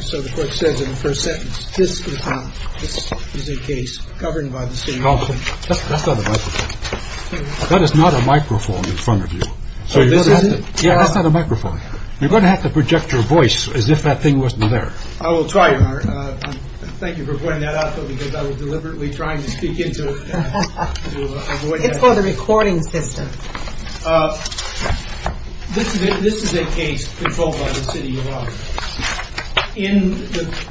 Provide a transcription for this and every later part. So the court says in the first sentence, this is a case governed by the City of Auburn. That's not a microphone. That is not a microphone in front of you. Oh, this is it? Yeah, that's not a microphone. You're going to have to project your voice as if that thing wasn't there. I will try, Your Honor. Thank you for pointing that out, though, because I was deliberately trying to speak into a voice. It's called a recording system. This is a case controlled by the City of Auburn.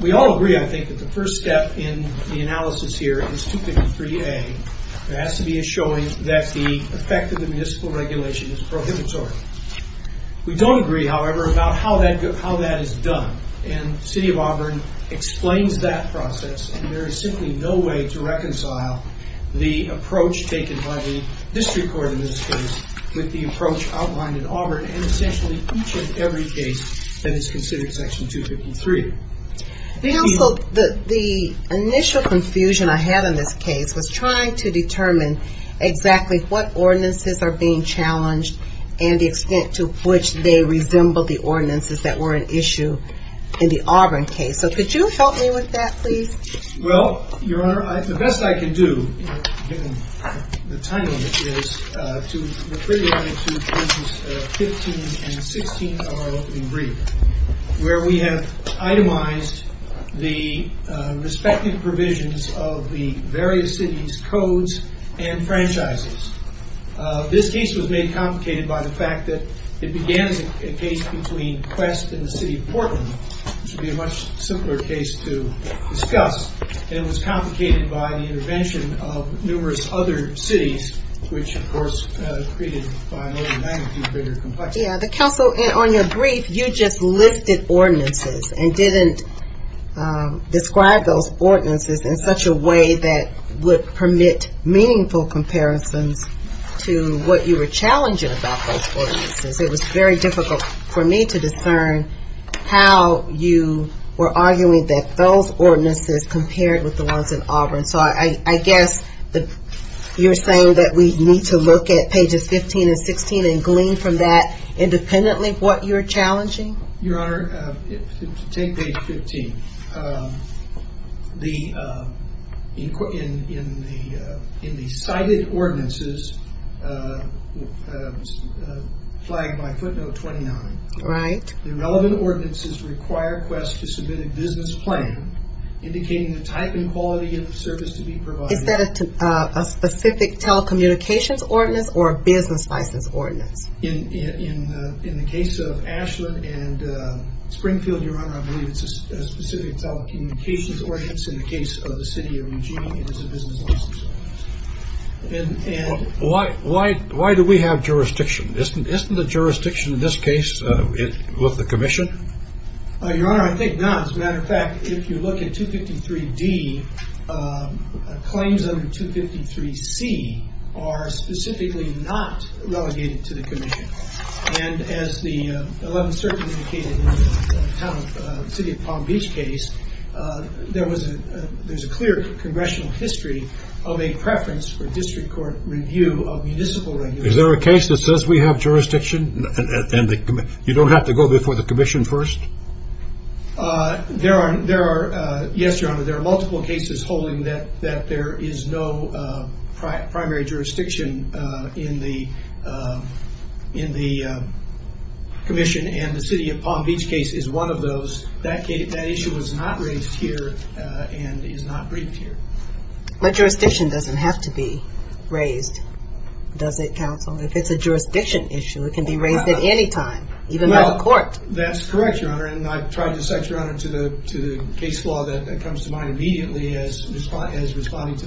We all agree, I think, that the first step in the analysis here is 253A. It has to be a showing that the effect of the municipal regulation is prohibitory. We don't agree, however, about how that is done, and the City of Auburn explains that process, and there is simply no way to reconcile the approach taken by the district court in this case with the approach outlined in Auburn, and essentially each and every case that is considered Section 253. The initial confusion I had in this case was trying to determine exactly what ordinances are being challenged and the extent to which they resembled the ordinances that were an issue in the Auburn case. So could you help me with that, please? Well, Your Honor, the best I can do, given the time limit, is to refer you to Cases 15 and 16 of the brief, where we have itemized the respective provisions of the various cities' codes and franchises. This case was made complicated by the fact that it began as a case between Quest and the City of Portland, which would be a much simpler case to discuss, and it was complicated by the intervention of numerous other cities, which, of course, created, by and large, a magnitude greater complexity. Yeah, the counsel on your brief, you just listed ordinances and didn't describe those ordinances in such a way that would permit meaningful comparisons to what you were challenging about those ordinances. It was very difficult for me to discern how you were arguing that those ordinances compared with the ones in Auburn. So I guess you're saying that we need to look at Pages 15 and 16 and glean from that independently what you're challenging? Your Honor, take Page 15. In the cited ordinances, flagged by footnote 29, the relevant ordinances require Quest to submit a business plan indicating the type and quality of the service to be provided. Is that a specific telecommunications ordinance or a business license ordinance? In the case of Ashland and Springfield, Your Honor, I believe it's a specific telecommunications ordinance. In the case of the City of Eugene, it is a business license ordinance. Why do we have jurisdiction? Isn't the jurisdiction in this case with the commission? Your Honor, I think not. As a matter of fact, if you look at 253D, claims under 253C are specifically not relegated to the commission. And as the 11th Circuit indicated in the City of Palm Beach case, there's a clear congressional history of a preference for district court review of municipal regulation. Is there a case that says we have jurisdiction and you don't have to go before the commission first? Yes, Your Honor. There are multiple cases holding that there is no primary jurisdiction in the commission, and the City of Palm Beach case is one of those. That issue was not raised here and is not briefed here. But jurisdiction doesn't have to be raised, does it, counsel? If it's a jurisdiction issue, it can be raised at any time, even by the court. That's correct, Your Honor, and I've tried to cite Your Honor to the case law that comes to mind immediately as responding to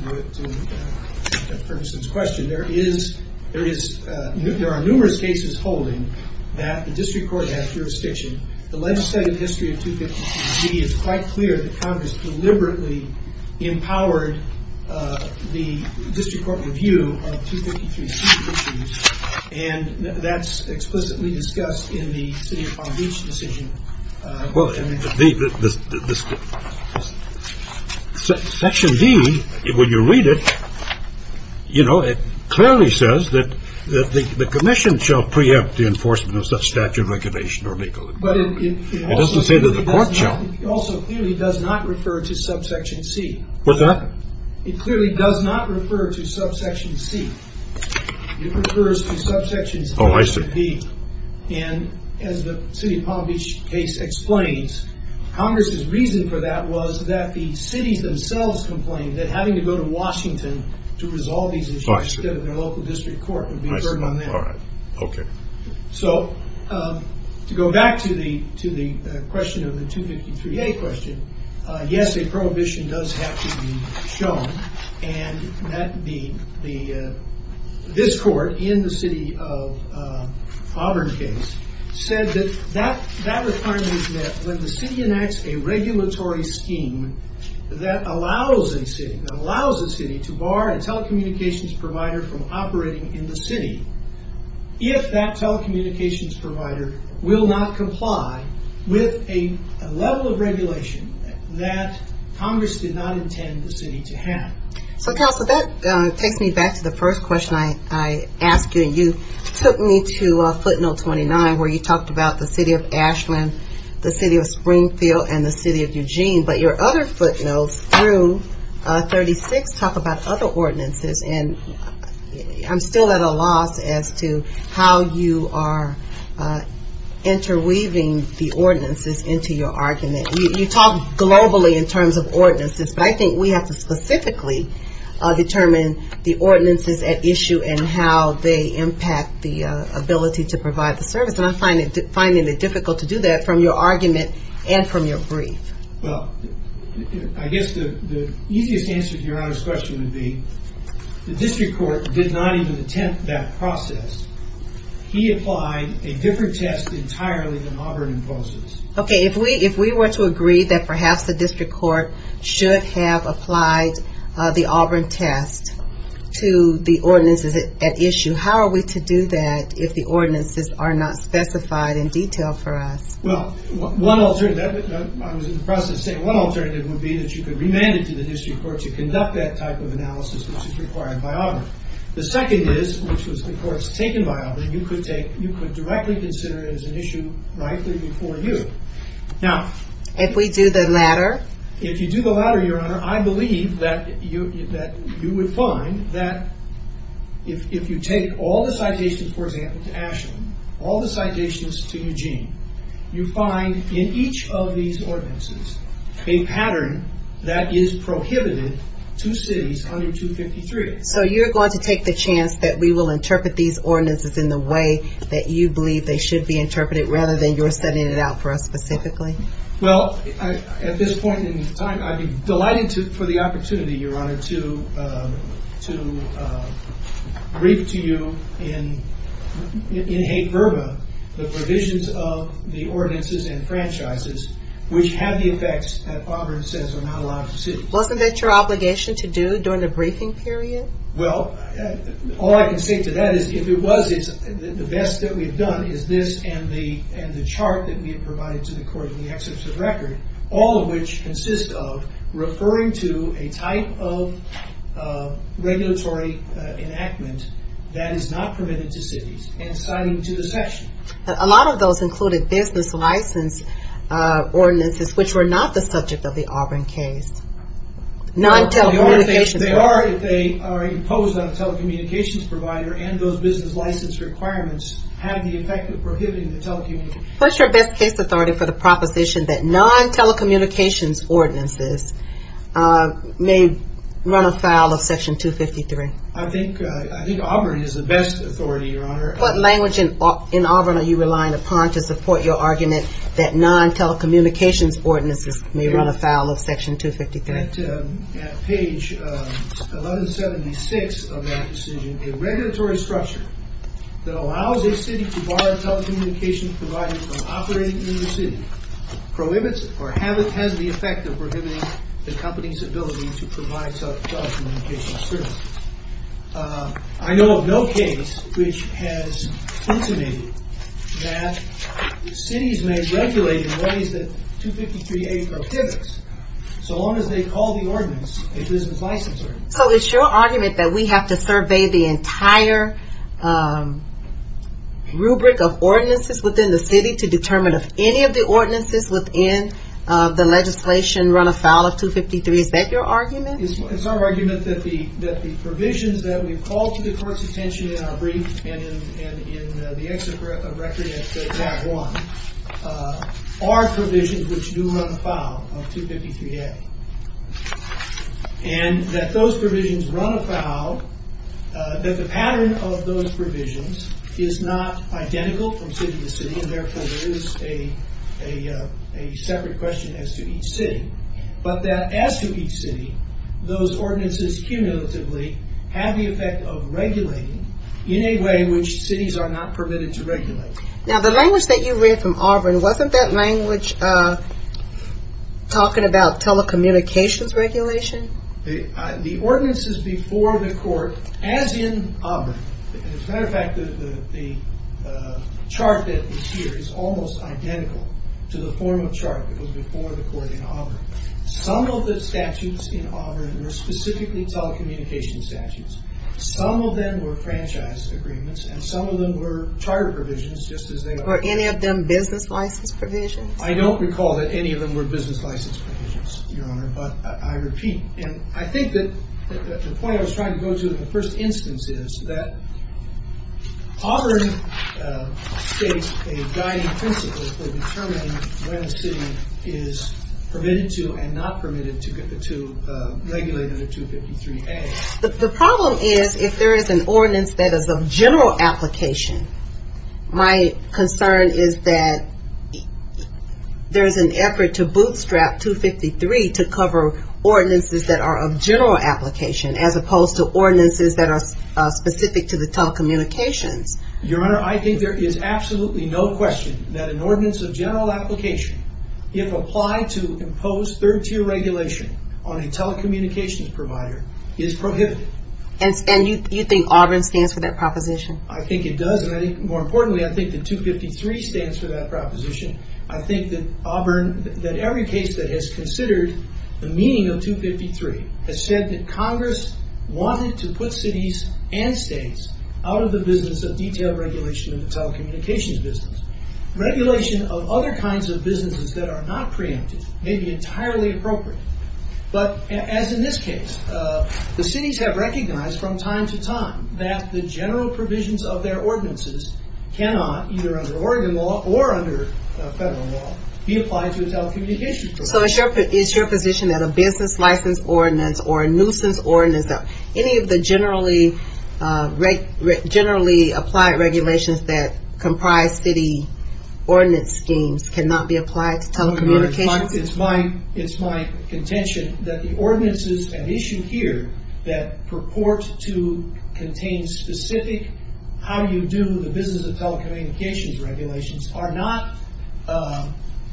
Ferguson's question. There are numerous cases holding that the district court has jurisdiction. The legislative history of 253D is quite clear that Congress deliberately empowered the district court review of 253C issues, and that's explicitly discussed in the City of Palm Beach decision. Well, Section D, when you read it, you know, it clearly says that the commission shall preempt the enforcement of such statute of regulation or legal. But it also clearly does not refer to subsection C. What's that? It clearly does not refer to subsection C. It refers to subsection C. Oh, I see. And as the City of Palm Beach case explains, Congress's reason for that was that the cities themselves complained that having to go to Washington to resolve these issues instead of their local district court would be a burden on them. I see. All right. Okay. So to go back to the question of the 253A question, yes, a prohibition does have to be shown, and this court in the City of Auburn case said that that requirement is met when the city enacts a regulatory scheme that allows a city to bar a telecommunications provider from operating in the city if that telecommunications provider will not comply with a level of regulation that Congress did not intend the city to have. So, Counselor, that takes me back to the first question I asked you, and you took me to footnote 29 where you talked about the City of Ashland, the City of Springfield, and the City of Eugene. But your other footnotes through 36 talk about other ordinances, and I'm still at a loss as to how you are interweaving the ordinances into your argument. You talk globally in terms of ordinances, but I think we have to specifically determine the ordinances at issue and how they impact the ability to provide the service, and I'm finding it difficult to do that from your argument and from your brief. Well, I guess the easiest answer to Your Honor's question would be the district court did not even attempt that process. He applied a different test entirely than Auburn imposes. Okay, if we were to agree that perhaps the district court should have applied the Auburn test to the ordinances at issue, how are we to do that if the ordinances are not specified in detail for us? Well, I was in the process of saying one alternative would be that you could remand it to the district court to conduct that type of analysis, which is required by Auburn. The second is, which was of course taken by Auburn, you could directly consider it as an issue right before you. If we do the latter? If you do the latter, Your Honor, I believe that you would find that if you take all the citations, for example, to Ashland, all the citations to Eugene, you find in each of these ordinances a pattern that is prohibited to cities under 253. So you're going to take the chance that we will interpret these ordinances in the way that you believe they should be interpreted rather than you're setting it out for us specifically? Well, at this point in time, I'd be delighted for the opportunity, Your Honor, to brief to you in hate verba the provisions of the ordinances and franchises which have the effects that Auburn says are not allowed in cities. Wasn't that your obligation to do during the briefing period? Well, all I can say to that is if it was, the best that we've done is this and the chart that we have provided to the court in the excerpts of the record, all of which consist of referring to a type of regulatory enactment that is not permitted to cities and citing to the section. A lot of those included business license ordinances, which were not the subject of the Auburn case. They are if they are imposed on a telecommunications provider and those business license requirements have the effect of prohibiting telecommunications. What's your best case authority for the proposition that non-telecommunications ordinances may run afoul of section 253? I think Auburn is the best authority, Your Honor. that non-telecommunications ordinances may run afoul of section 253. At page 1176 of that decision, a regulatory structure that allows a city to bar telecommunications providers from operating in the city prohibits or has the effect of prohibiting the company's ability to provide telecommunications services. I know of no case which has intimated that cities may regulate in ways that 253A prohibits so long as they call the ordinance a business license ordinance. So it's your argument that we have to survey the entire rubric of ordinances within the city to determine if any of the ordinances within the legislation run afoul of 253? Is that your argument? It's our argument that the provisions that we've called to the court's attention in our brief and in the exit record at tab one are provisions which do run afoul of 253A. And that those provisions run afoul, that the pattern of those provisions is not identical from city to city and therefore there is a separate question as to each city. But that as to each city, those ordinances cumulatively have the effect of regulating in a way which cities are not permitted to regulate. Now the language that you read from Auburn, wasn't that language talking about telecommunications regulation? The ordinances before the court, as in Auburn, as a matter of fact the chart that is here is almost identical to the formal chart that was before the court in Auburn. Some of the statutes in Auburn were specifically telecommunications statutes. Some of them were franchise agreements and some of them were charter provisions just as they are. Were any of them business license provisions? I don't recall that any of them were business license provisions, Your Honor, but I repeat. And I think that the point I was trying to go to in the first instance is that Auburn states a guiding principle for determining when a city is permitted to and not permitted to regulate under 253A. The problem is if there is an ordinance that is of general application, my concern is that there is an effort to bootstrap 253 to cover ordinances that are of general application as opposed to ordinances that are specific to the telecommunications. Your Honor, I think there is absolutely no question that an ordinance of general application, if applied to impose third-tier regulation on a telecommunications provider, is prohibited. And you think Auburn stands for that proposition? I think it does, and more importantly, I think that 253 stands for that proposition. I think that Auburn, that every case that has considered the meaning of 253 has said that Congress wanted to put cities and states out of the business of detailed regulation of the telecommunications business. Regulation of other kinds of businesses that are not preemptive may be entirely appropriate. But as in this case, the cities have recognized from time to time that the general provisions of their ordinances cannot, either under Oregon law or under federal law, be applied to a telecommunications provider. So is your position that a business license ordinance or a nuisance ordinance, any of the generally applied regulations that comprise city ordinance schemes cannot be applied to telecommunications? It's my contention that the ordinances at issue here that purport to contain specific how you do the business of telecommunications regulations are not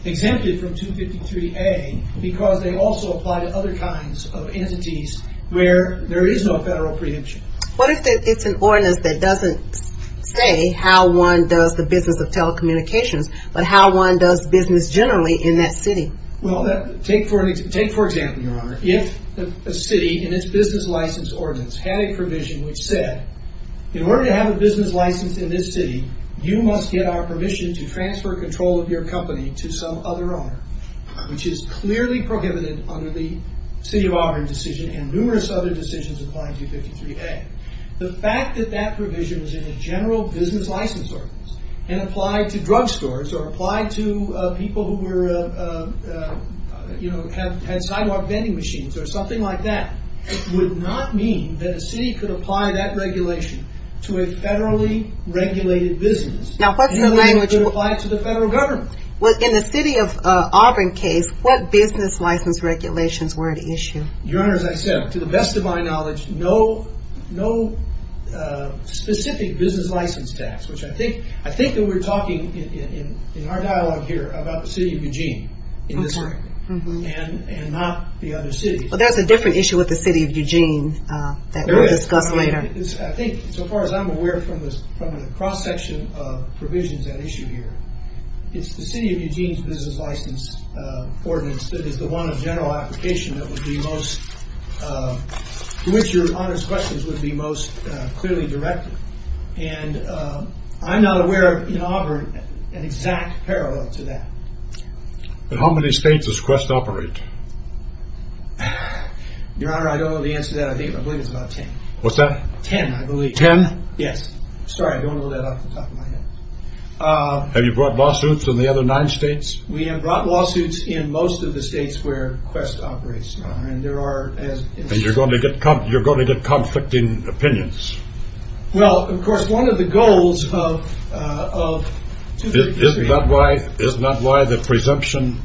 exempted from 253A because they also apply to other kinds of entities where there is no federal preemption. What if it's an ordinance that doesn't say how one does the business of telecommunications, but how one does business generally in that city? Well, take for example, Your Honor. If a city in its business license ordinance had a provision which said, in order to have a business license in this city, you must get our permission to transfer control of your company to some other owner, which is clearly prohibited under the City of Auburn decision and numerous other decisions applying 253A. The fact that that provision was in a general business license ordinance and applied to drugstores or applied to people who had sidewalk vending machines or something like that would not mean that a city could apply that regulation to a federally regulated business. It would apply to the federal government. In the City of Auburn case, what business license regulations were at issue? Your Honor, as I said, to the best of my knowledge, no specific business license tax, which I think that we're talking in our dialogue here about the City of Eugene and not the other cities. Well, there's a different issue with the City of Eugene that we'll discuss later. I think so far as I'm aware from the cross-section of provisions at issue here, it's the City of Eugene's business license ordinance that is the one of general application to which Your Honor's questions would be most clearly directed. I'm not aware of, in Auburn, an exact parallel to that. How many states does Quest operate? Your Honor, I don't know the answer to that. I believe it's about 10. What's that? Ten, I believe. Ten? Yes. Sorry, I don't know that off the top of my head. Have you brought lawsuits in the other nine states? We have brought lawsuits in most of the states where Quest operates, Your Honor. And you're going to get conflicting opinions. Well, of course, one of the goals of… Isn't that why the presumption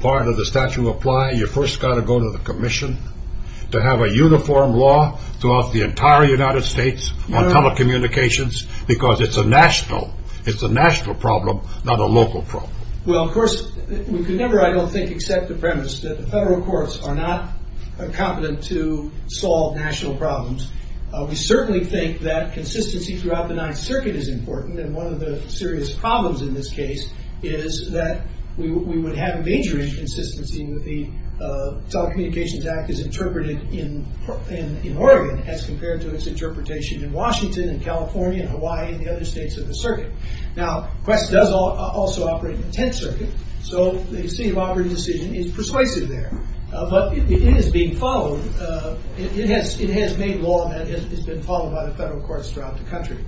part of the statute apply? You first got to go to the commission to have a uniform law throughout the entire United States on telecommunications because it's a national problem, not a local problem. Well, of course, we could never, I don't think, accept the premise that the federal courts are not competent to solve national problems. We certainly think that consistency throughout the Ninth Circuit is important, and one of the serious problems in this case is that we would have major inconsistency with the Telecommunications Act as interpreted in Oregon as compared to its interpretation in Washington and California and Hawaii and the other states of the circuit. Now, Quest does also operate in the Tenth Circuit, so the City of Auburn decision is persuasive there. But it is being followed. It has made law that has been followed by the federal courts throughout the country.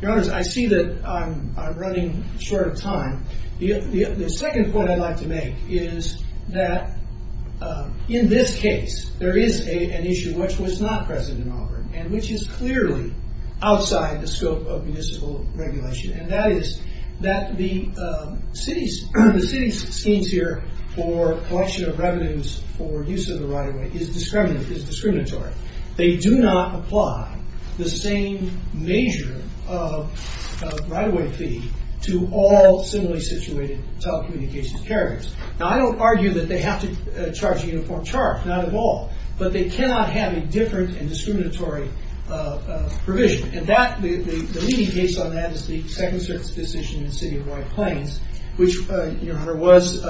Your Honors, I see that I'm running short of time. The second point I'd like to make is that in this case, there is an issue which was not present in Auburn and which is clearly outside the scope of municipal regulation and that is that the city's schemes here for collection of revenues for use of the right-of-way is discriminatory. They do not apply the same major right-of-way fee to all similarly situated telecommunications carriers. Now, I don't argue that they have to charge a uniform charge, not at all, but they cannot have a different and discriminatory provision, and the leading case on that is the Second Circuit's decision in the City of White Plains, which, Your Honor, was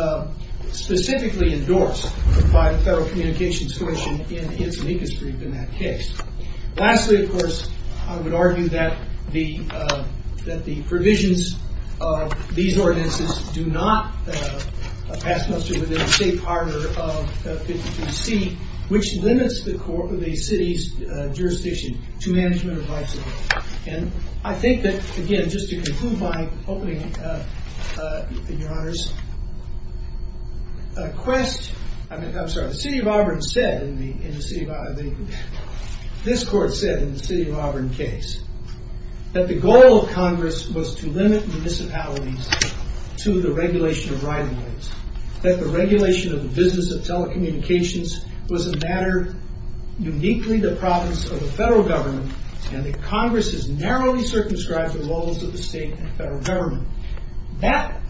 specifically endorsed by the Federal Communications Commission in its amicus brief in that case. Lastly, of course, I would argue that the provisions of these ordinances do not pass muster within the safe harbor of 53C, which limits the city's jurisdiction to management of rights of way. And I think that, again, just to conclude by opening, Your Honors, a quest, I'm sorry, the City of Auburn said, this court said in the City of Auburn case, that the goal of Congress was to limit municipalities to the regulation of right-of-ways, that the regulation of the business of telecommunications was a matter uniquely the province of the federal government, and that Congress has narrowly circumscribed the roles of the state and federal government. That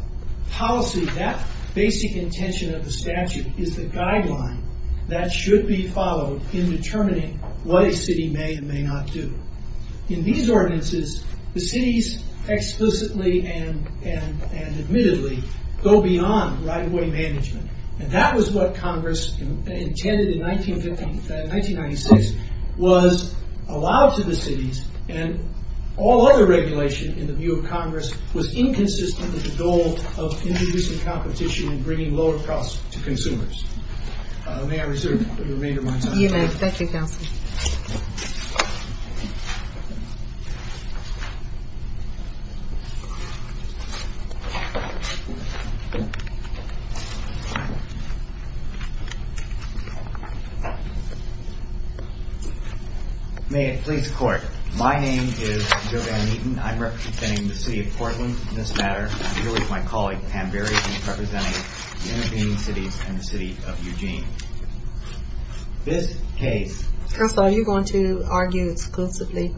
policy, that basic intention of the statute is the guideline that should be followed in determining what a city may and may not do. In these ordinances, the cities explicitly and admittedly go beyond right-of-way management. And that was what Congress intended in 1996, was allowed to the cities and all other regulation in the view of Congress was inconsistent with the goal of introducing competition and bringing lower costs to consumers. May I reserve the remainder of my time? You may. Thank you, Counsel. May it please the Court. My name is Jovan Neaton. I'm representing the City of Portland in this matter. I'm here with my colleague, Pam Berry, representing the intervening cities and the City of Eugene. This case... Counsel, are you going to argue exclusively?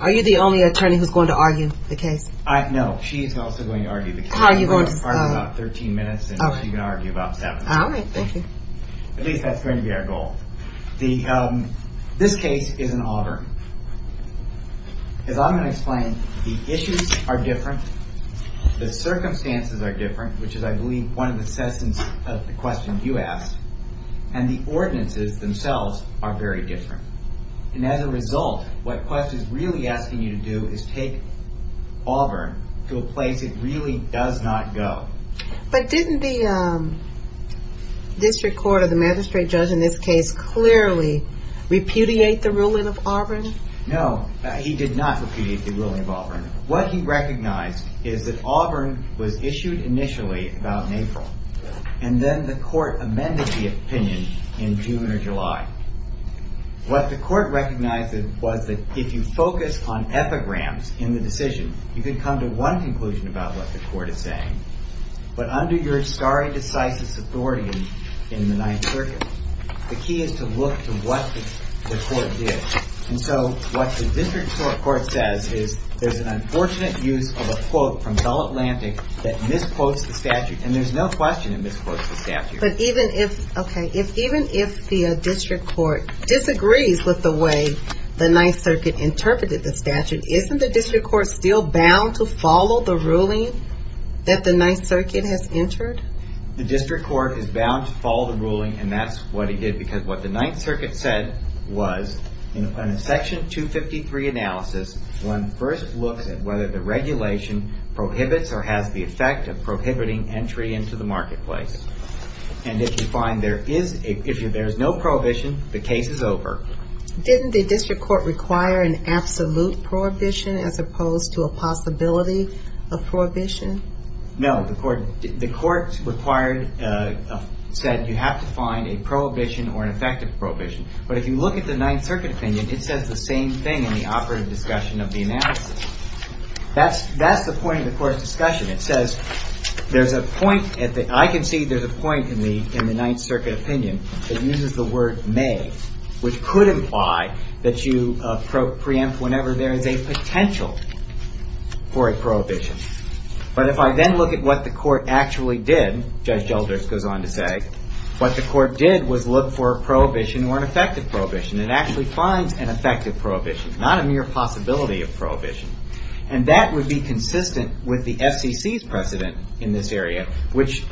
Are you the only attorney who's going to argue the case? No, she's also going to argue the case. How are you going to... You have about 13 minutes, and she can argue about seven. All right, thank you. At least that's going to be our goal. This case is in Auburn. As I'm going to explain, the issues are different. The circumstances are different, which is, I believe, one of the questions you asked. And the ordinances themselves are very different. And as a result, what Quest is really asking you to do is take Auburn to a place it really does not go. But didn't the district court or the magistrate judge in this case clearly repudiate the ruling of Auburn? No, he did not repudiate the ruling of Auburn. What he recognized is that Auburn was issued initially about April, and then the court amended the opinion in June or July. What the court recognized was that if you focus on epigrams in the decision, you can come to one conclusion about what the court is saying. But under your stare decisis authority in the Ninth Circuit, the key is to look to what the court did. And so what the district court says is there's an unfortunate use of a quote from Bell Atlantic that misquotes the statute. And there's no question it misquotes the statute. But even if the district court disagrees with the way the Ninth Circuit interpreted the statute, isn't the district court still bound to follow the ruling that the Ninth Circuit has entered? The district court is bound to follow the ruling, and that's what it did because what the Ninth Circuit said was in a Section 253 analysis, one first looks at whether the regulation prohibits or has the effect of prohibiting entry into the marketplace. And if you find there is no prohibition, the case is over. Didn't the district court require an absolute prohibition as opposed to a possibility of prohibition? No. The court said you have to find a prohibition or an effective prohibition. But if you look at the Ninth Circuit opinion, it says the same thing in the operative discussion of the analysis. That's the point of the court's discussion. It says there's a point. I can see there's a point in the Ninth Circuit opinion that uses the word may, which could imply that you preempt whenever there is a potential for a prohibition. But if I then look at what the court actually did, Judge Gelders goes on to say, what the court did was look for a prohibition or an effective prohibition. It actually finds an effective prohibition, not a mere possibility of prohibition. And that would be consistent with the FCC's precedent in this area, which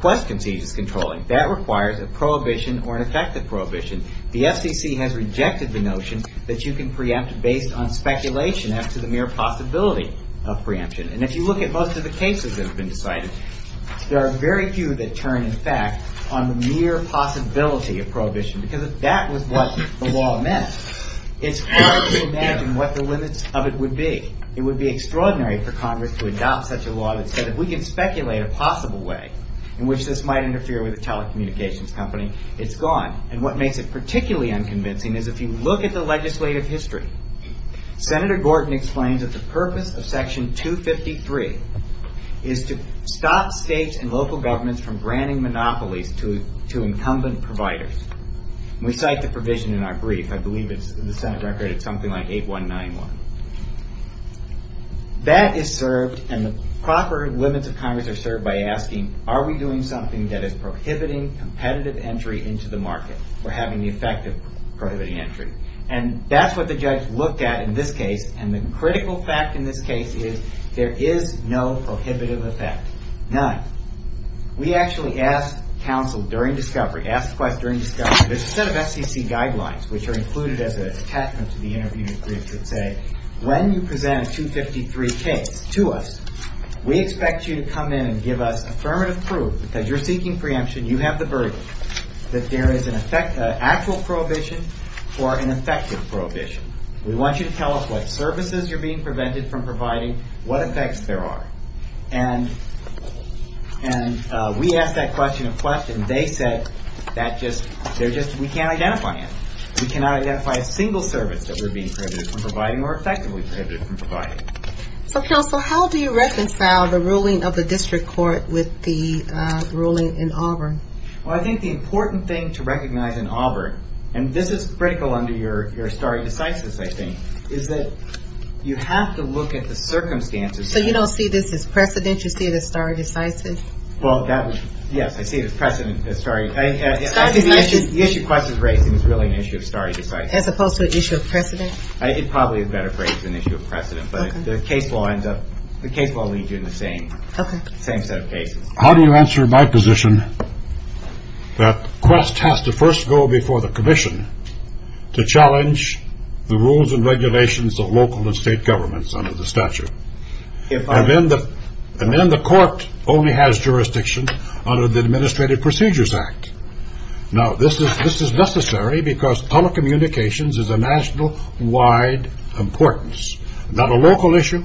Quest concedes is controlling. That requires a prohibition or an effective prohibition. The FCC has rejected the notion that you can preempt based on speculation as to the mere possibility of preemption. And if you look at most of the cases that have been decided, there are very few that turn, in fact, on the mere possibility of prohibition. Because if that was what the law meant, it's hard to imagine what the limits of it would be. It would be extraordinary for Congress to adopt such a law that said if we can speculate a possible way in which this might interfere with a telecommunications company, it's gone. And what makes it particularly unconvincing is if you look at the legislative history, Senator Gorton explains that the purpose of Section 253 is to stop states and local governments from granting monopolies to incumbent providers. We cite the provision in our brief. I believe in the Senate record it's something like 8191. That is served, and the proper limits of Congress are served, by asking are we doing something that is prohibiting competitive entry into the market or having the effect of prohibiting entry. And that's what the judge looked at in this case, and the critical fact in this case is there is no prohibitive effect, none. We actually asked counsel during discovery, asked the question during discovery, there's a set of SEC guidelines which are included as an attachment to the interview brief that say when you present a 253 case to us, we expect you to come in and give us affirmative proof that you're seeking preemption, you have the verdict, that there is an actual prohibition or an effective prohibition. We want you to tell us what services you're being prevented from providing, what effects there are. And we asked that question in Flushton. They said that just, they're just, we can't identify it. We cannot identify a single service that we're being prohibited from providing or effectively prohibited from providing. So, counsel, how do you reconcile the ruling of the district court with the ruling in Auburn? Well, I think the important thing to recognize in Auburn, and this is critical under your stare decisis, I think, is that you have to look at the circumstances. So you don't see this as precedent, you see it as stare decisis? Well, that was, yes, I see it as precedent, as stare. I think the issue Quest is raising is really an issue of stare decisis. As opposed to an issue of precedent? It probably is a better phrase than issue of precedent, but the case law ends up, the case law leaves you in the same set of cases. How do you answer my position that Quest has to first go before the commission to challenge the rules and regulations of local and state governments under the statute? And then the court only has jurisdiction under the Administrative Procedures Act. Now, this is necessary because telecommunications is a nationwide importance. Not a local issue,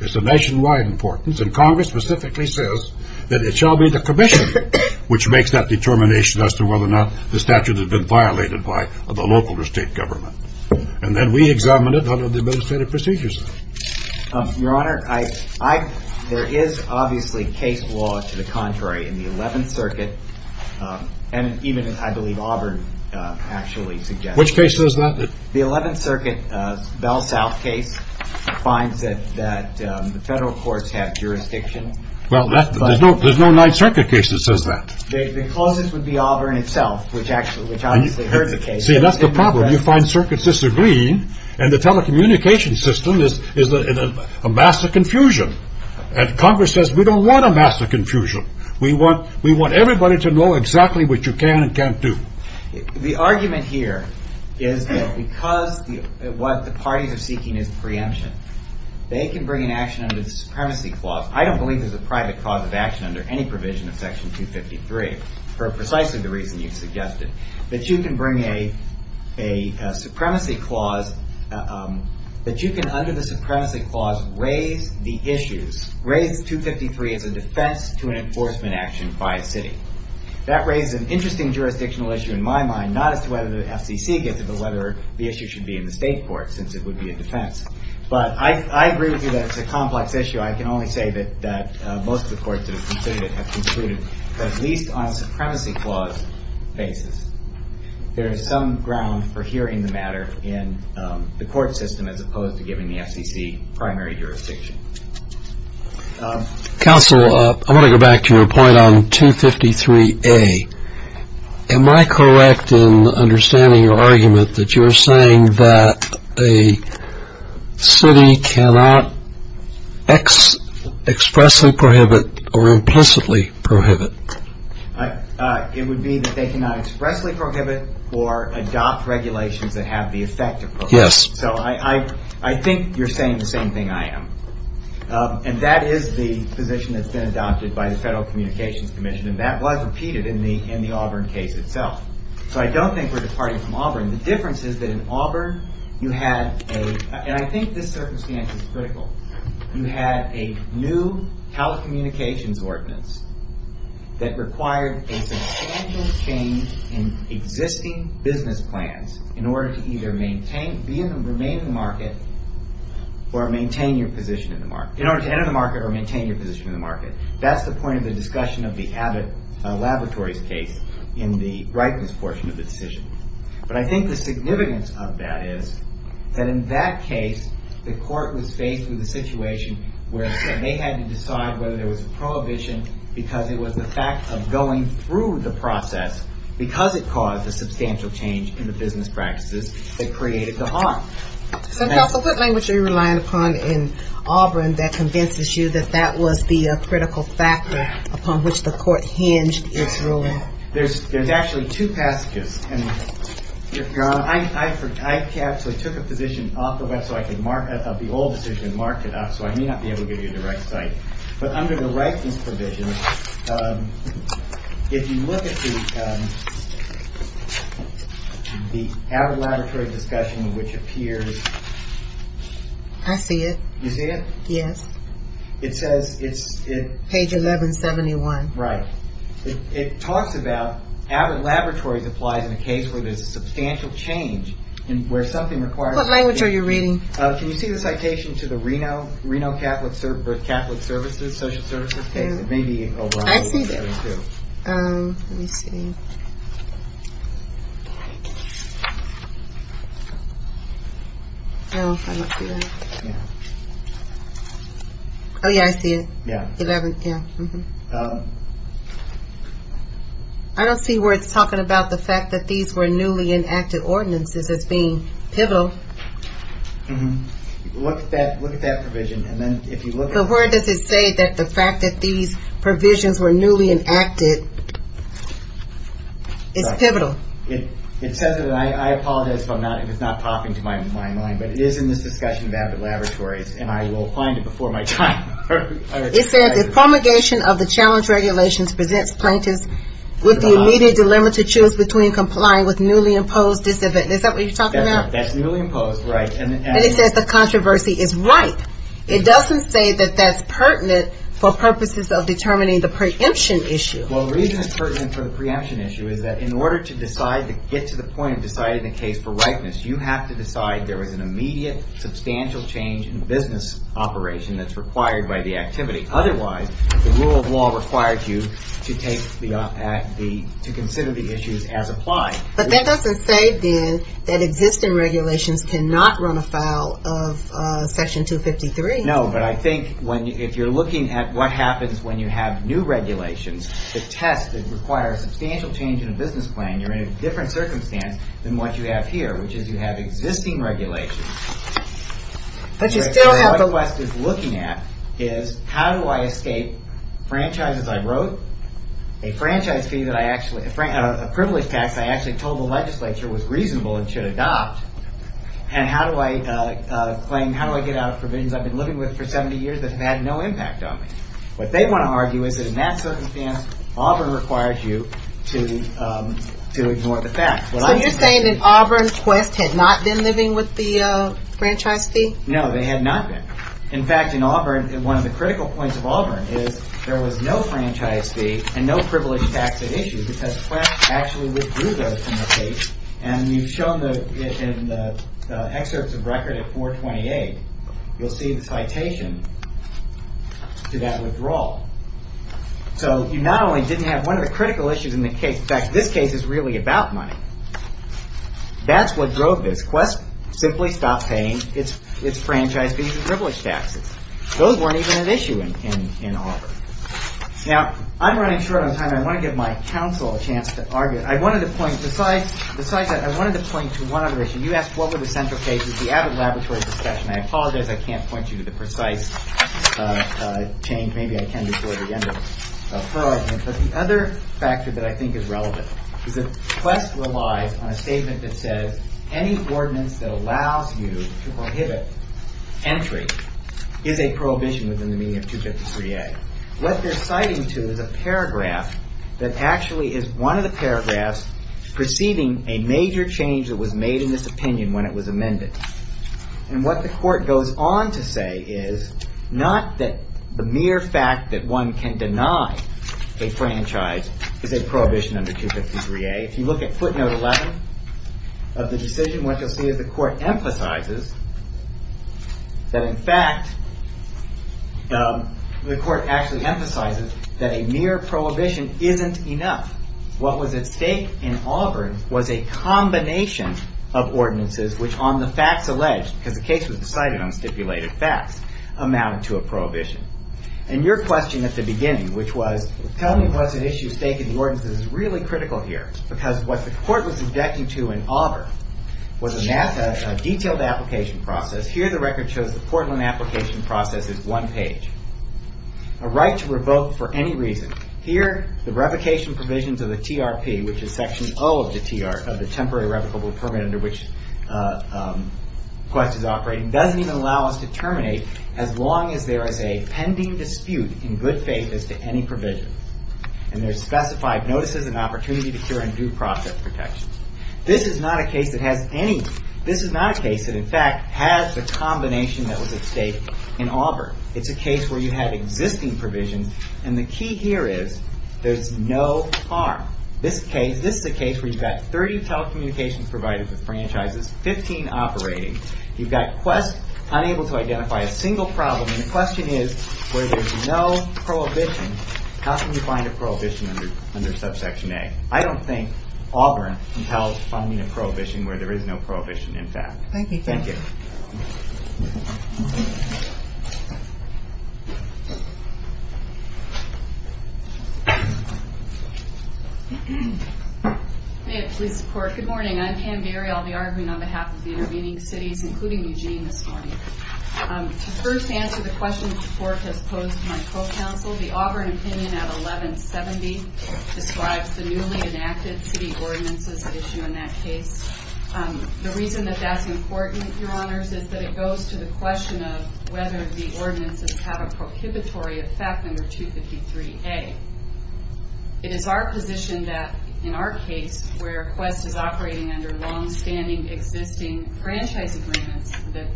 it's a nationwide importance, and Congress specifically says that it shall be the commission which makes that determination as to whether or not the statute has been violated by the local or state government. And then we examine it under the Administrative Procedures Act. Your Honor, there is obviously case law to the contrary in the 11th Circuit, and even, I believe, Auburn actually suggests it. Which case says that? The 11th Circuit Bell South case finds that the federal courts have jurisdiction. Well, there's no 9th Circuit case that says that. The closest would be Auburn itself, which obviously hurts the case. See, that's the problem. You find circuits disagree, and the telecommunications system is a mass of confusion. And Congress says, we don't want a mass of confusion. We want everybody to know exactly what you can and can't do. The argument here is that because what the parties are seeking is preemption, they can bring an action under the Supremacy Clause. I don't believe there's a private clause of action under any provision of Section 253, for precisely the reason you suggested, that you can bring a Supremacy Clause, that you can, under the Supremacy Clause, raise the issues, raise 253 as a defense to an enforcement action by a city. That raises an interesting jurisdictional issue in my mind, not as to whether the FCC gets it, but whether the issue should be in the state courts, since it would be a defense. But I agree with you that it's a complex issue. I can only say that most of the courts that have considered it have concluded that at least on a Supremacy Clause basis, there is some ground for hearing the matter in the court system, as opposed to giving the FCC primary jurisdiction. Counsel, I want to go back to your point on 253A. Am I correct in understanding your argument that you're saying that a city cannot expressly prohibit or implicitly prohibit? It would be that they cannot expressly prohibit or adopt regulations that have the effect of prohibiting. So I think you're saying the same thing I am. And that is the position that's been adopted by the Federal Communications Commission, and that was repeated in the Auburn case itself. So I don't think we're departing from Auburn. The difference is that in Auburn, you had a... And I think this circumstance is critical. You had a new telecommunications ordinance that required a substantial change in existing business plans in order to either remain in the market or maintain your position in the market. In order to enter the market or maintain your position in the market. That's the point of the discussion of the Abbott Laboratories case in the rightness portion of the decision. But I think the significance of that is that in that case, the court was faced with a situation where they had to decide whether there was a prohibition because it was the fact of going through the process because it caused a substantial change in the business practices that created the harm. So, Counsel, what language are you relying upon in Auburn that convinces you that that was the critical factor upon which the court hinged its rule? There's actually two passages. I actually took a position off the website of the old decision and marked it up so I may not be able to give you the right site. But under the rightness provision, if you look at the Abbott Laboratory discussion, which appears... I see it. You see it? Yes. It says... Page 1171. Right. It talks about... Abbott Laboratories applies in a case where there's a substantial change and where something requires... What language are you reading? Can you see the citation to the Reno Catholic Services, Social Services case? I see that. Let me see. Oh, I don't see that. Oh, yeah, I see it. Yeah. 11, yeah. I don't see where it's talking about the fact that these were newly enacted ordinances as being pivotal. Look at that provision, and then if you look at... But where does it say that the fact that these provisions were newly enacted is pivotal? It says that... I apologize if it's not popping to my mind, but it is in this discussion of Abbott Laboratories, and I will find it before my time. It says, if promulgation of the challenge regulations presents plaintiffs with the immediate dilemma to choose between complying with newly imposed... Is that what you're talking about? That's newly imposed, right. And it says the controversy is ripe. It doesn't say that that's pertinent for purposes of determining the preemption issue. Well, the reason it's pertinent for the preemption issue is that in order to get to the point of deciding the case for ripeness, you have to decide there was an immediate, substantial change in business operation that's required by the activity. Otherwise, the rule of law requires you to consider the issues as applied. But that doesn't say, then, that existing regulations cannot run afoul of Section 253. No, but I think if you're looking at what happens when you have new regulations that test and require a substantial change in a business plan, you're in a different circumstance than what you have here, which is you have existing regulations. But you still have the... What West is looking at is how do I escape franchises I wrote, a franchise fee that I actually... a privilege tax I actually told the legislature was reasonable and should adopt, and how do I claim... that I've been living with for 70 years that have had no impact on me? What they want to argue is that in that circumstance, Auburn requires you to ignore the facts. So you're saying that Auburn and Quest had not been living with the franchise fee? No, they had not been. In fact, in Auburn, one of the critical points of Auburn is there was no franchise fee and no privilege tax at issue because Quest actually withdrew those from the case. And you've shown it in the excerpts of record at 428. You'll see the citation to that withdrawal. So you not only didn't have one of the critical issues in the case... In fact, this case is really about money. That's what drove this. Quest simply stopped paying its franchise fees and privilege taxes. Those weren't even at issue in Auburn. Now, I'm running short on time. I want to give my counsel a chance to argue. I wanted to point... Besides that, I wanted to point to one other issue. You asked what were the central cases. The Abbott Laboratory discussion, I apologize. I can't point you to the precise change. Maybe I can before the end of her argument. But the other factor that I think is relevant is that Quest relies on a statement that says any ordinance that allows you to prohibit entry is a prohibition within the meaning of 253A. What they're citing to is a paragraph that actually is one of the paragraphs preceding a major change that was made in this opinion when it was amended. What the court goes on to say is not that the mere fact that one can deny a franchise is a prohibition under 253A. If you look at footnote 11 of the decision, what you'll see is the court emphasizes that in fact, the court actually emphasizes What was at stake in Auburn was a combination of ordinances which on the facts alleged, because the case was decided on stipulated facts, amounted to a prohibition. And your question at the beginning, which was tell me what's at issue at stake in the ordinances, is really critical here. Because what the court was objecting to in Auburn was a detailed application process. Here the record shows the Portland application process is one page. A right to revoke for any reason. Here, the revocation provisions of the TRP, which is section O of the temporary revocable permit under which Quest is operating, doesn't even allow us to terminate as long as there is a pending dispute in good faith as to any provisions. And there's specified notices and opportunity to cure and due process protections. This is not a case that has any... This is not a case that in fact has the combination that was at stake in Auburn. It's a case where you have existing provisions and the key here is there's no harm. This case, this is a case where you've got 30 telecommunications providers with franchises, 15 operating. You've got Quest unable to identify a single problem. And the question is, where there's no prohibition, how can you find a prohibition under subsection A? I don't think Auburn can help finding a prohibition where there is no prohibition in fact. Thank you. Thank you. May it please the court. Good morning. I'm Pam Geary. I'll be arguing on behalf of the intervening cities, including Eugene this morning. To first answer the question the court has posed to my co-counsel, the Auburn opinion at 1170 describes the newly enacted city ordinances as an issue in that case. The reason that that's important, Your Honors, is that it goes to the question of whether the ordinances have a prohibitory effect under 253A. It is our position that, in our case, where Quest is operating under long-standing, existing franchise agreements, that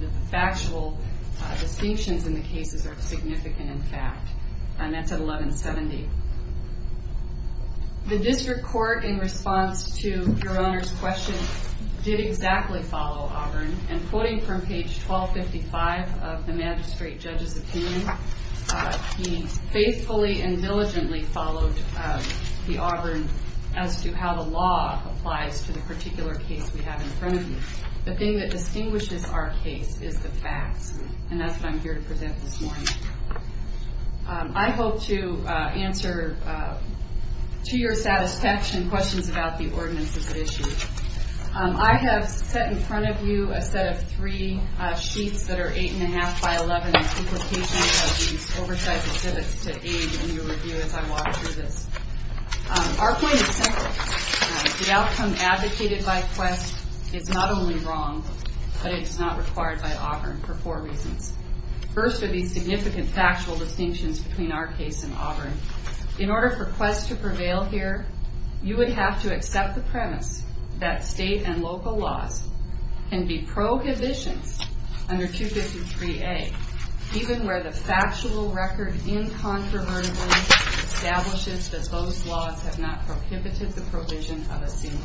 the factual distinctions in the cases are significant in fact. And that's at 1170. The district court, in response to Your Honors' question, did exactly follow Auburn. And quoting from page 1255 of the magistrate judge's opinion, he faithfully and diligently followed the Auburn as to how the law applies to the particular case we have in front of you. The thing that distinguishes our case is the facts, and that's what I'm here to present this morning. I hope to answer, to your satisfaction, questions about the ordinances at issue. I have set in front of you a set of three sheets that are 8 1⁄2 by 11 in duplication of these oversized exhibits to aid in your review as I walk through this. Our point is simple. The outcome advocated by Quest is not only wrong, but it is not required by Auburn for four reasons. First are these significant factual distinctions between our case and Auburn. In order for Quest to prevail here, you would have to accept the premise that state and local laws can be prohibitions under 253A, even where the factual record incontrovertibly establishes that those laws have not prohibited the provision of a single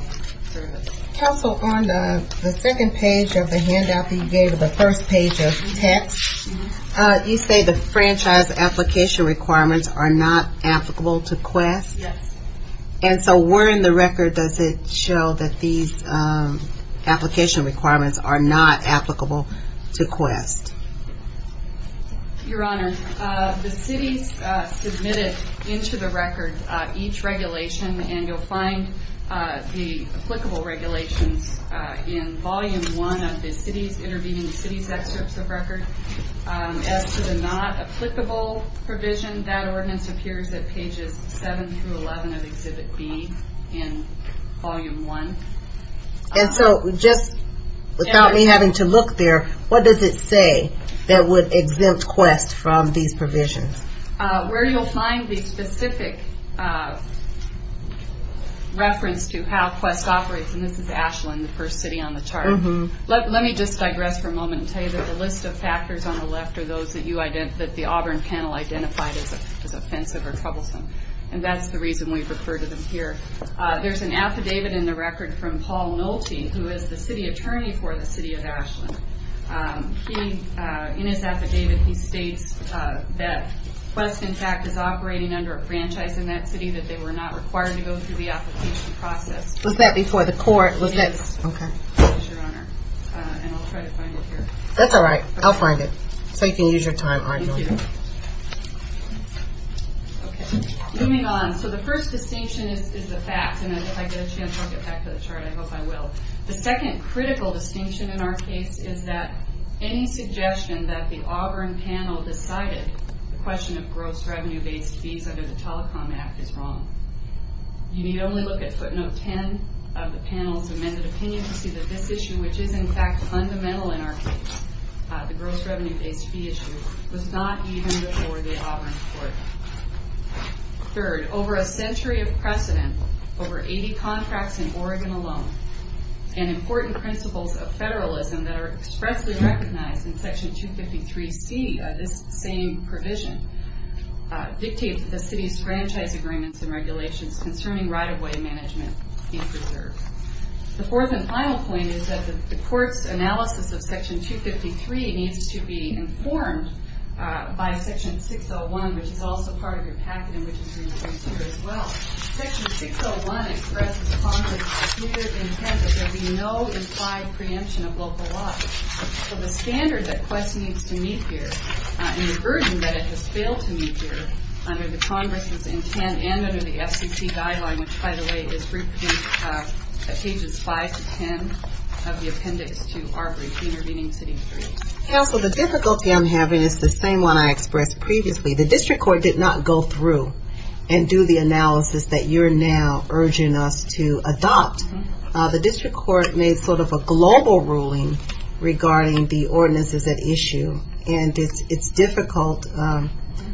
service. Also on the second page of the handout that you gave of the first page of text, you say the franchise application requirements are not applicable to Quest. Yes. And so where in the record does it show that these application requirements are not applicable to Quest? Your Honor, the city submitted into the record each regulation, and you'll find the applicable regulations in Volume 1 of the city's, intervening the city's excerpts of record. As to the not applicable provision, that ordinance appears at pages 7 through 11 of Exhibit B in Volume 1. And so just without me having to look there, what does it say that would exempt Quest from these provisions? Where you'll find the specific reference to how Quest operates, and this is Ashland, the first city on the chart. Let me just digress for a moment and tell you that the list of factors on the left are those that the Auburn panel identified as offensive or troublesome, and that's the reason we've referred to them here. There's an affidavit in the record from Paul Nolte, who is the city attorney for the city of Ashland. In his affidavit, he states that Quest, in fact, is operating under a franchise in that city, that they were not required to go through the application process. Was that before the court? Yes, Your Honor, and I'll try to find it here. That's all right, I'll find it, so you can use your time arguing. Thank you. Okay, moving on. So the first distinction is the facts, and if I get a chance, I'll get back to the chart. I hope I will. The second critical distinction in our case is that any suggestion that the Auburn panel decided the question of gross revenue-based fees under the Telecom Act is wrong. You need only look at footnote 10 of the panel's amended opinion to see that this issue, which is, in fact, fundamental in our case, the gross revenue-based fee issue, was not even before the Auburn court. Third, over a century of precedent, over 80 contracts in Oregon alone, and important principles of federalism that are expressly recognized in Section 253C, this same provision, dictates that the city's franchise agreements and regulations concerning right-of-way management be preserved. The fourth and final point is that the court's analysis of Section 253 needs to be informed by Section 601, which is also part of your packet and which is replaced here as well. Section 601 expresses Congress's clear intent that there be no implied preemption of local law. So the standard that Quest needs to meet here and the burden that it has failed to meet here under the Congress's intent and under the FCC guideline, which, by the way, is grouped in pages 5 to 10 of the appendix to our brief, Intervening City Rules. And also the difficulty I'm having is the same one I expressed previously. The district court did not go through and do the analysis that you're now urging us to adopt. The district court made sort of a global ruling regarding the ordinances at issue, and it's difficult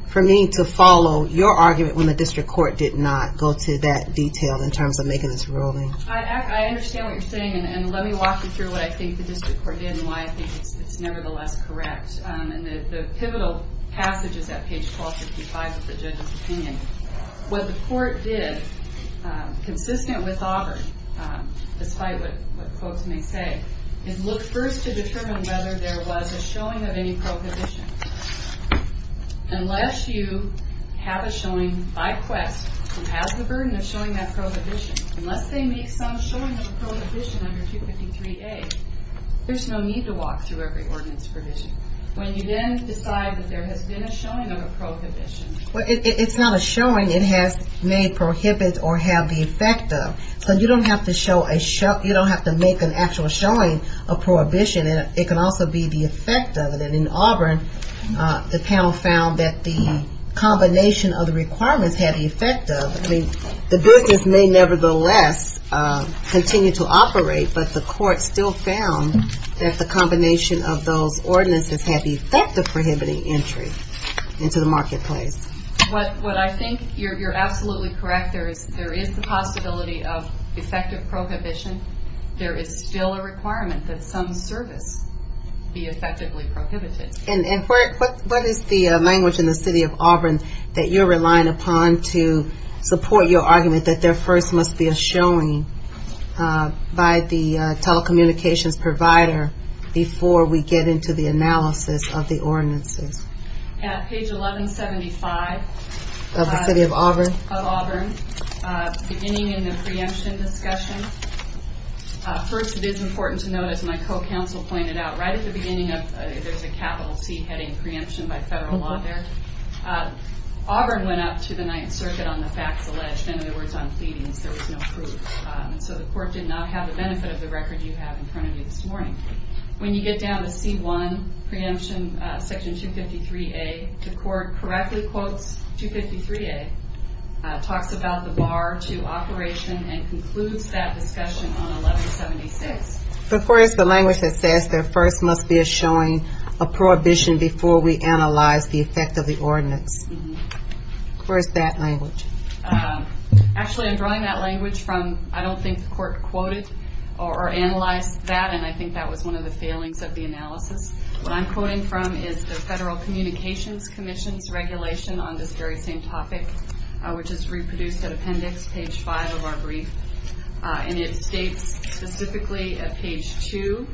for me to follow your argument when the district court did not go to that detail in terms of making this ruling. I understand what you're saying, and let me walk you through what I think the district court did and why I think it's nevertheless correct. And the pivotal passage is at page 1255 of the judge's opinion. What the court did, consistent with Auburn, despite what folks may say, is look first to determine whether there was a showing of any prohibition. Unless you have a showing by Quest who has the burden of showing that prohibition, unless they make some showing of a prohibition under 253A, there's no need to walk through every ordinance provision. When you then decide that there has been a showing of a prohibition... Well, it's not a showing. It has made prohibit or have the effect of. So you don't have to show a show... You don't have to make an actual showing of prohibition. It can also be the effect of it. And in Auburn, the panel found that the combination of the requirements had the effect of. The business may nevertheless continue to operate, but the court still found that the combination of those ordinances had the effect of prohibiting entry into the marketplace. What I think you're absolutely correct, there is the possibility of effective prohibition. There is still a requirement that some service be effectively prohibited. And what is the language in the city of Auburn that you're relying upon to support your argument that there first must be a showing by the telecommunications provider before we get into the analysis of the ordinances? At page 1175... Of the city of Auburn? Of Auburn, beginning in the preemption discussion. First, it is important to note, as my co-counsel pointed out, right at the beginning of... There's a capital T heading, the preemption by federal law there. Auburn went up to the Ninth Circuit on the facts alleged, in other words, on pleadings. There was no proof. So the court did not have the benefit of the record you have in front of you this morning. When you get down to C-1, preemption, Section 253A, the court correctly quotes 253A, talks about the bar to operation, and concludes that discussion on 1176. Of course, the language that says there first must be a showing, a prohibition, before we analyze the effect of the ordinance. Where is that language? Actually, I'm drawing that language from... I don't think the court quoted or analyzed that, and I think that was one of the failings of the analysis. What I'm quoting from is the Federal Communications Commission's regulation on this very same topic, which is reproduced at appendix page 5 of our brief. And it states specifically at page 2,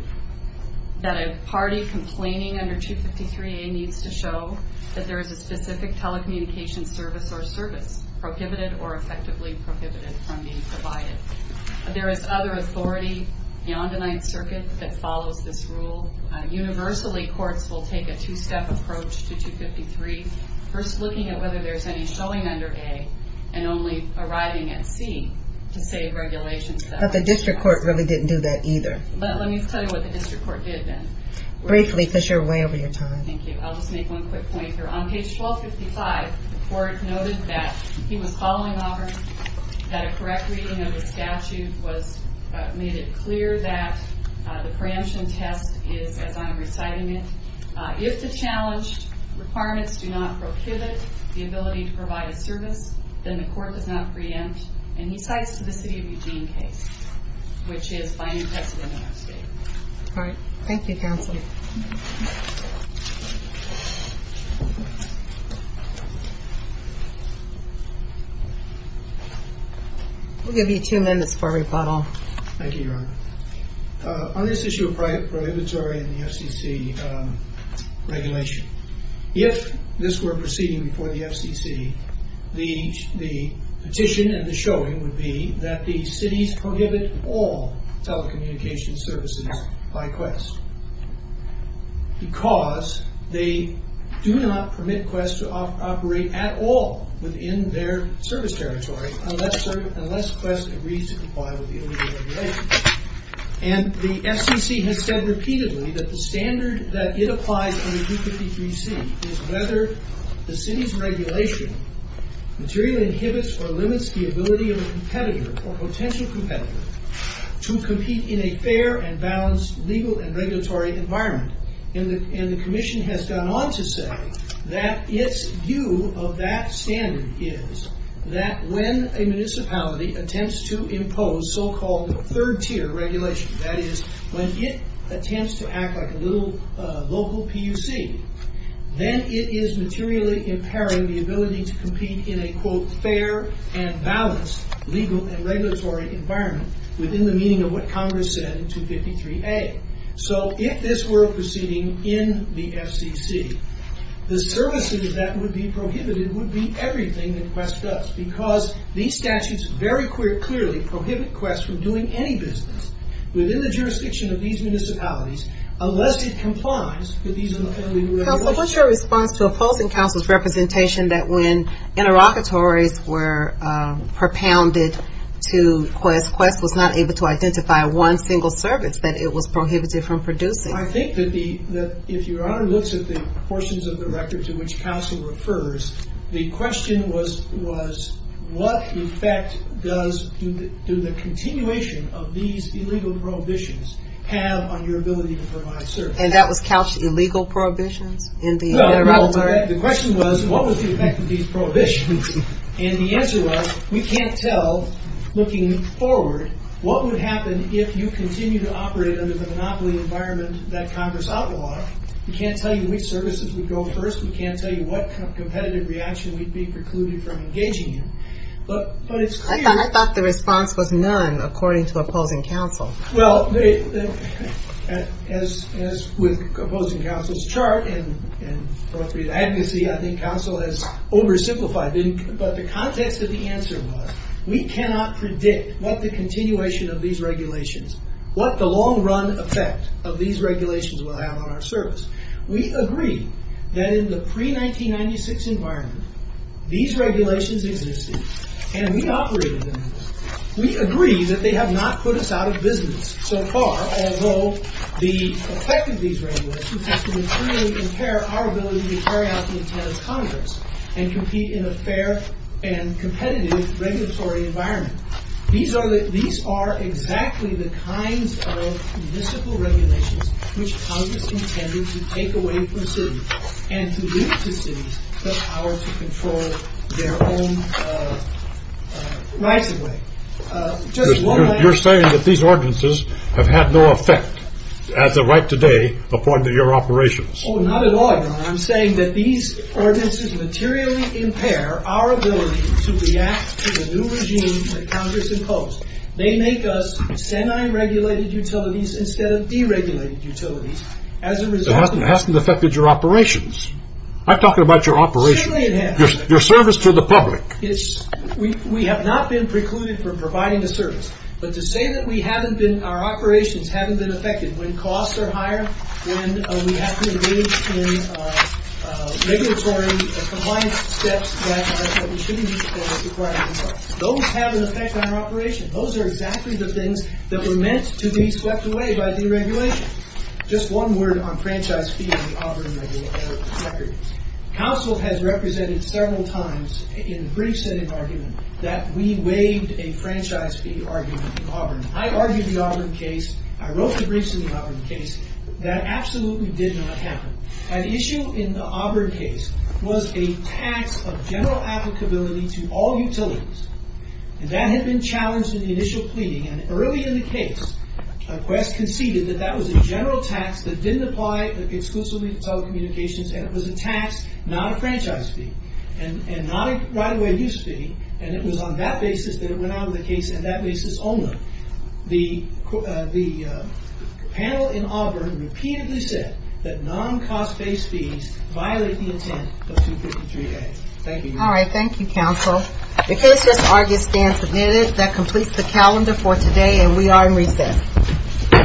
that a party complaining under 253A needs to show that there is a specific telecommunications service or service prohibited or effectively prohibited from being provided. There is other authority beyond the Ninth Circuit that follows this rule. Universally, courts will take a two-step approach to 253, first looking at whether there's any showing under A, and only arriving at C to save regulations. But the district court really didn't do that either. Let me tell you what the district court did then. Briefly, because you're way over your time. Thank you. I'll just make one quick point here. On page 1255, the court noted that he was following orders, that a correct reading of the statute made it clear that the preemption test is as I'm reciting it. If the challenged requirements do not prohibit the ability to provide a service, then the court does not preempt. And he cites the City of Eugene case, which is fine and precedent in our state. All right. Thank you, counsel. We'll give you two minutes for rebuttal. Thank you, Your Honor. On this issue of prohibitory in the FCC regulation, if this were proceeding before the FCC, the petition and the showing would be that the cities prohibit all telecommunications services by Quest. Because they do not permit Quest to operate at all within their service territory unless Quest agrees to comply with the illegal regulations. And the FCC has said repeatedly that the standard that it applies in the 253C is whether the city's regulation materially inhibits or limits the ability of a competitor or potential competitor to compete in a fair and balanced legal and regulatory environment. And the commission has gone on to say that its view of that standard is that when a municipality attempts to impose so-called third-tier regulation, that is, when it attempts to act like a little local PUC, then it is materially impairing the ability to compete in a, quote, fair and balanced legal and regulatory environment within the meaning of what Congress said in 253A. So if this were proceeding in the FCC, the services that would be prohibited would be everything that Quest does. Because these statutes very clearly prohibit Quest from doing any business within the jurisdiction of these municipalities unless it complies with these illegal regulations. What's your response to opposing Council's representation that when interlocutories were propounded to Quest, Quest was not able to identify one single service that it was prohibited from producing? I think that if Your Honor looks at the portions of the record to which Council refers, the question was, what effect do the continuation of these illegal prohibitions have on your ability to provide services? And that was couched illegal prohibitions? No, the question was, what was the effect of these prohibitions? And the answer was, we can't tell, looking forward, what would happen if you continue to operate under the monopoly environment that Congress outlawed. We can't tell you which services would go first. We can't tell you what kind of competitive reaction we'd be precluded from engaging in. But it's clear... I thought the response was none, according to opposing Council. Well, as with opposing Council's chart, and for us to be the advocacy, I think Council has oversimplified. But the context of the answer was, we cannot predict what the continuation of these regulations, what the long-run effect of these regulations will have on our service. We agree that in the pre-1996 environment, these regulations existed, and we operated under them. We agree that they have not put us out of business so far, although the effect of these regulations has materially impaired our ability to carry out the intent of Congress and compete in a fair and competitive regulatory environment. These are exactly the kinds of municipal regulations which Congress intended to take away from cities and to give to cities the power to control their own rights away. You're saying that these ordinances have had no effect, as of right today, according to your operations. Oh, not at all, Your Honor. I'm saying that these ordinances materially impair our ability to react to the new regime that Congress imposed. They make us semi-regulated utilities instead of deregulated utilities. As a result... It hasn't affected your operations. I'm talking about your operations. Certainly it has. Your service to the public. We have not been precluded from providing a service, but to say that our operations haven't been affected when costs are higher, when we have to engage in regulatory compliance steps that we shouldn't be for the private sector, those have an effect on our operations. Those are exactly the things that were meant to be swept away by deregulation. Just one word on franchise fees and the offering of securities. Counsel has represented several times in briefs and in argument that we waived a franchise fee argument in Auburn. I argued the Auburn case. I wrote the briefs in the Auburn case. That absolutely did not happen. An issue in the Auburn case was a tax of general applicability to all utilities. And that had been challenged in the initial pleading. And early in the case, Quest conceded that that was a general tax that didn't apply exclusively to telecommunications and it was a tax, not a franchise fee, and not a right-of-way use fee. And it was on that basis that it went out of the case and that basis only. The panel in Auburn repeatedly said that non-cost-based fees violate the intent of 253A. Thank you, Your Honor. All right, thank you, Counsel. The case is argued stand submitted. That completes the calendar for today and we are in recess. All rise. Thank you.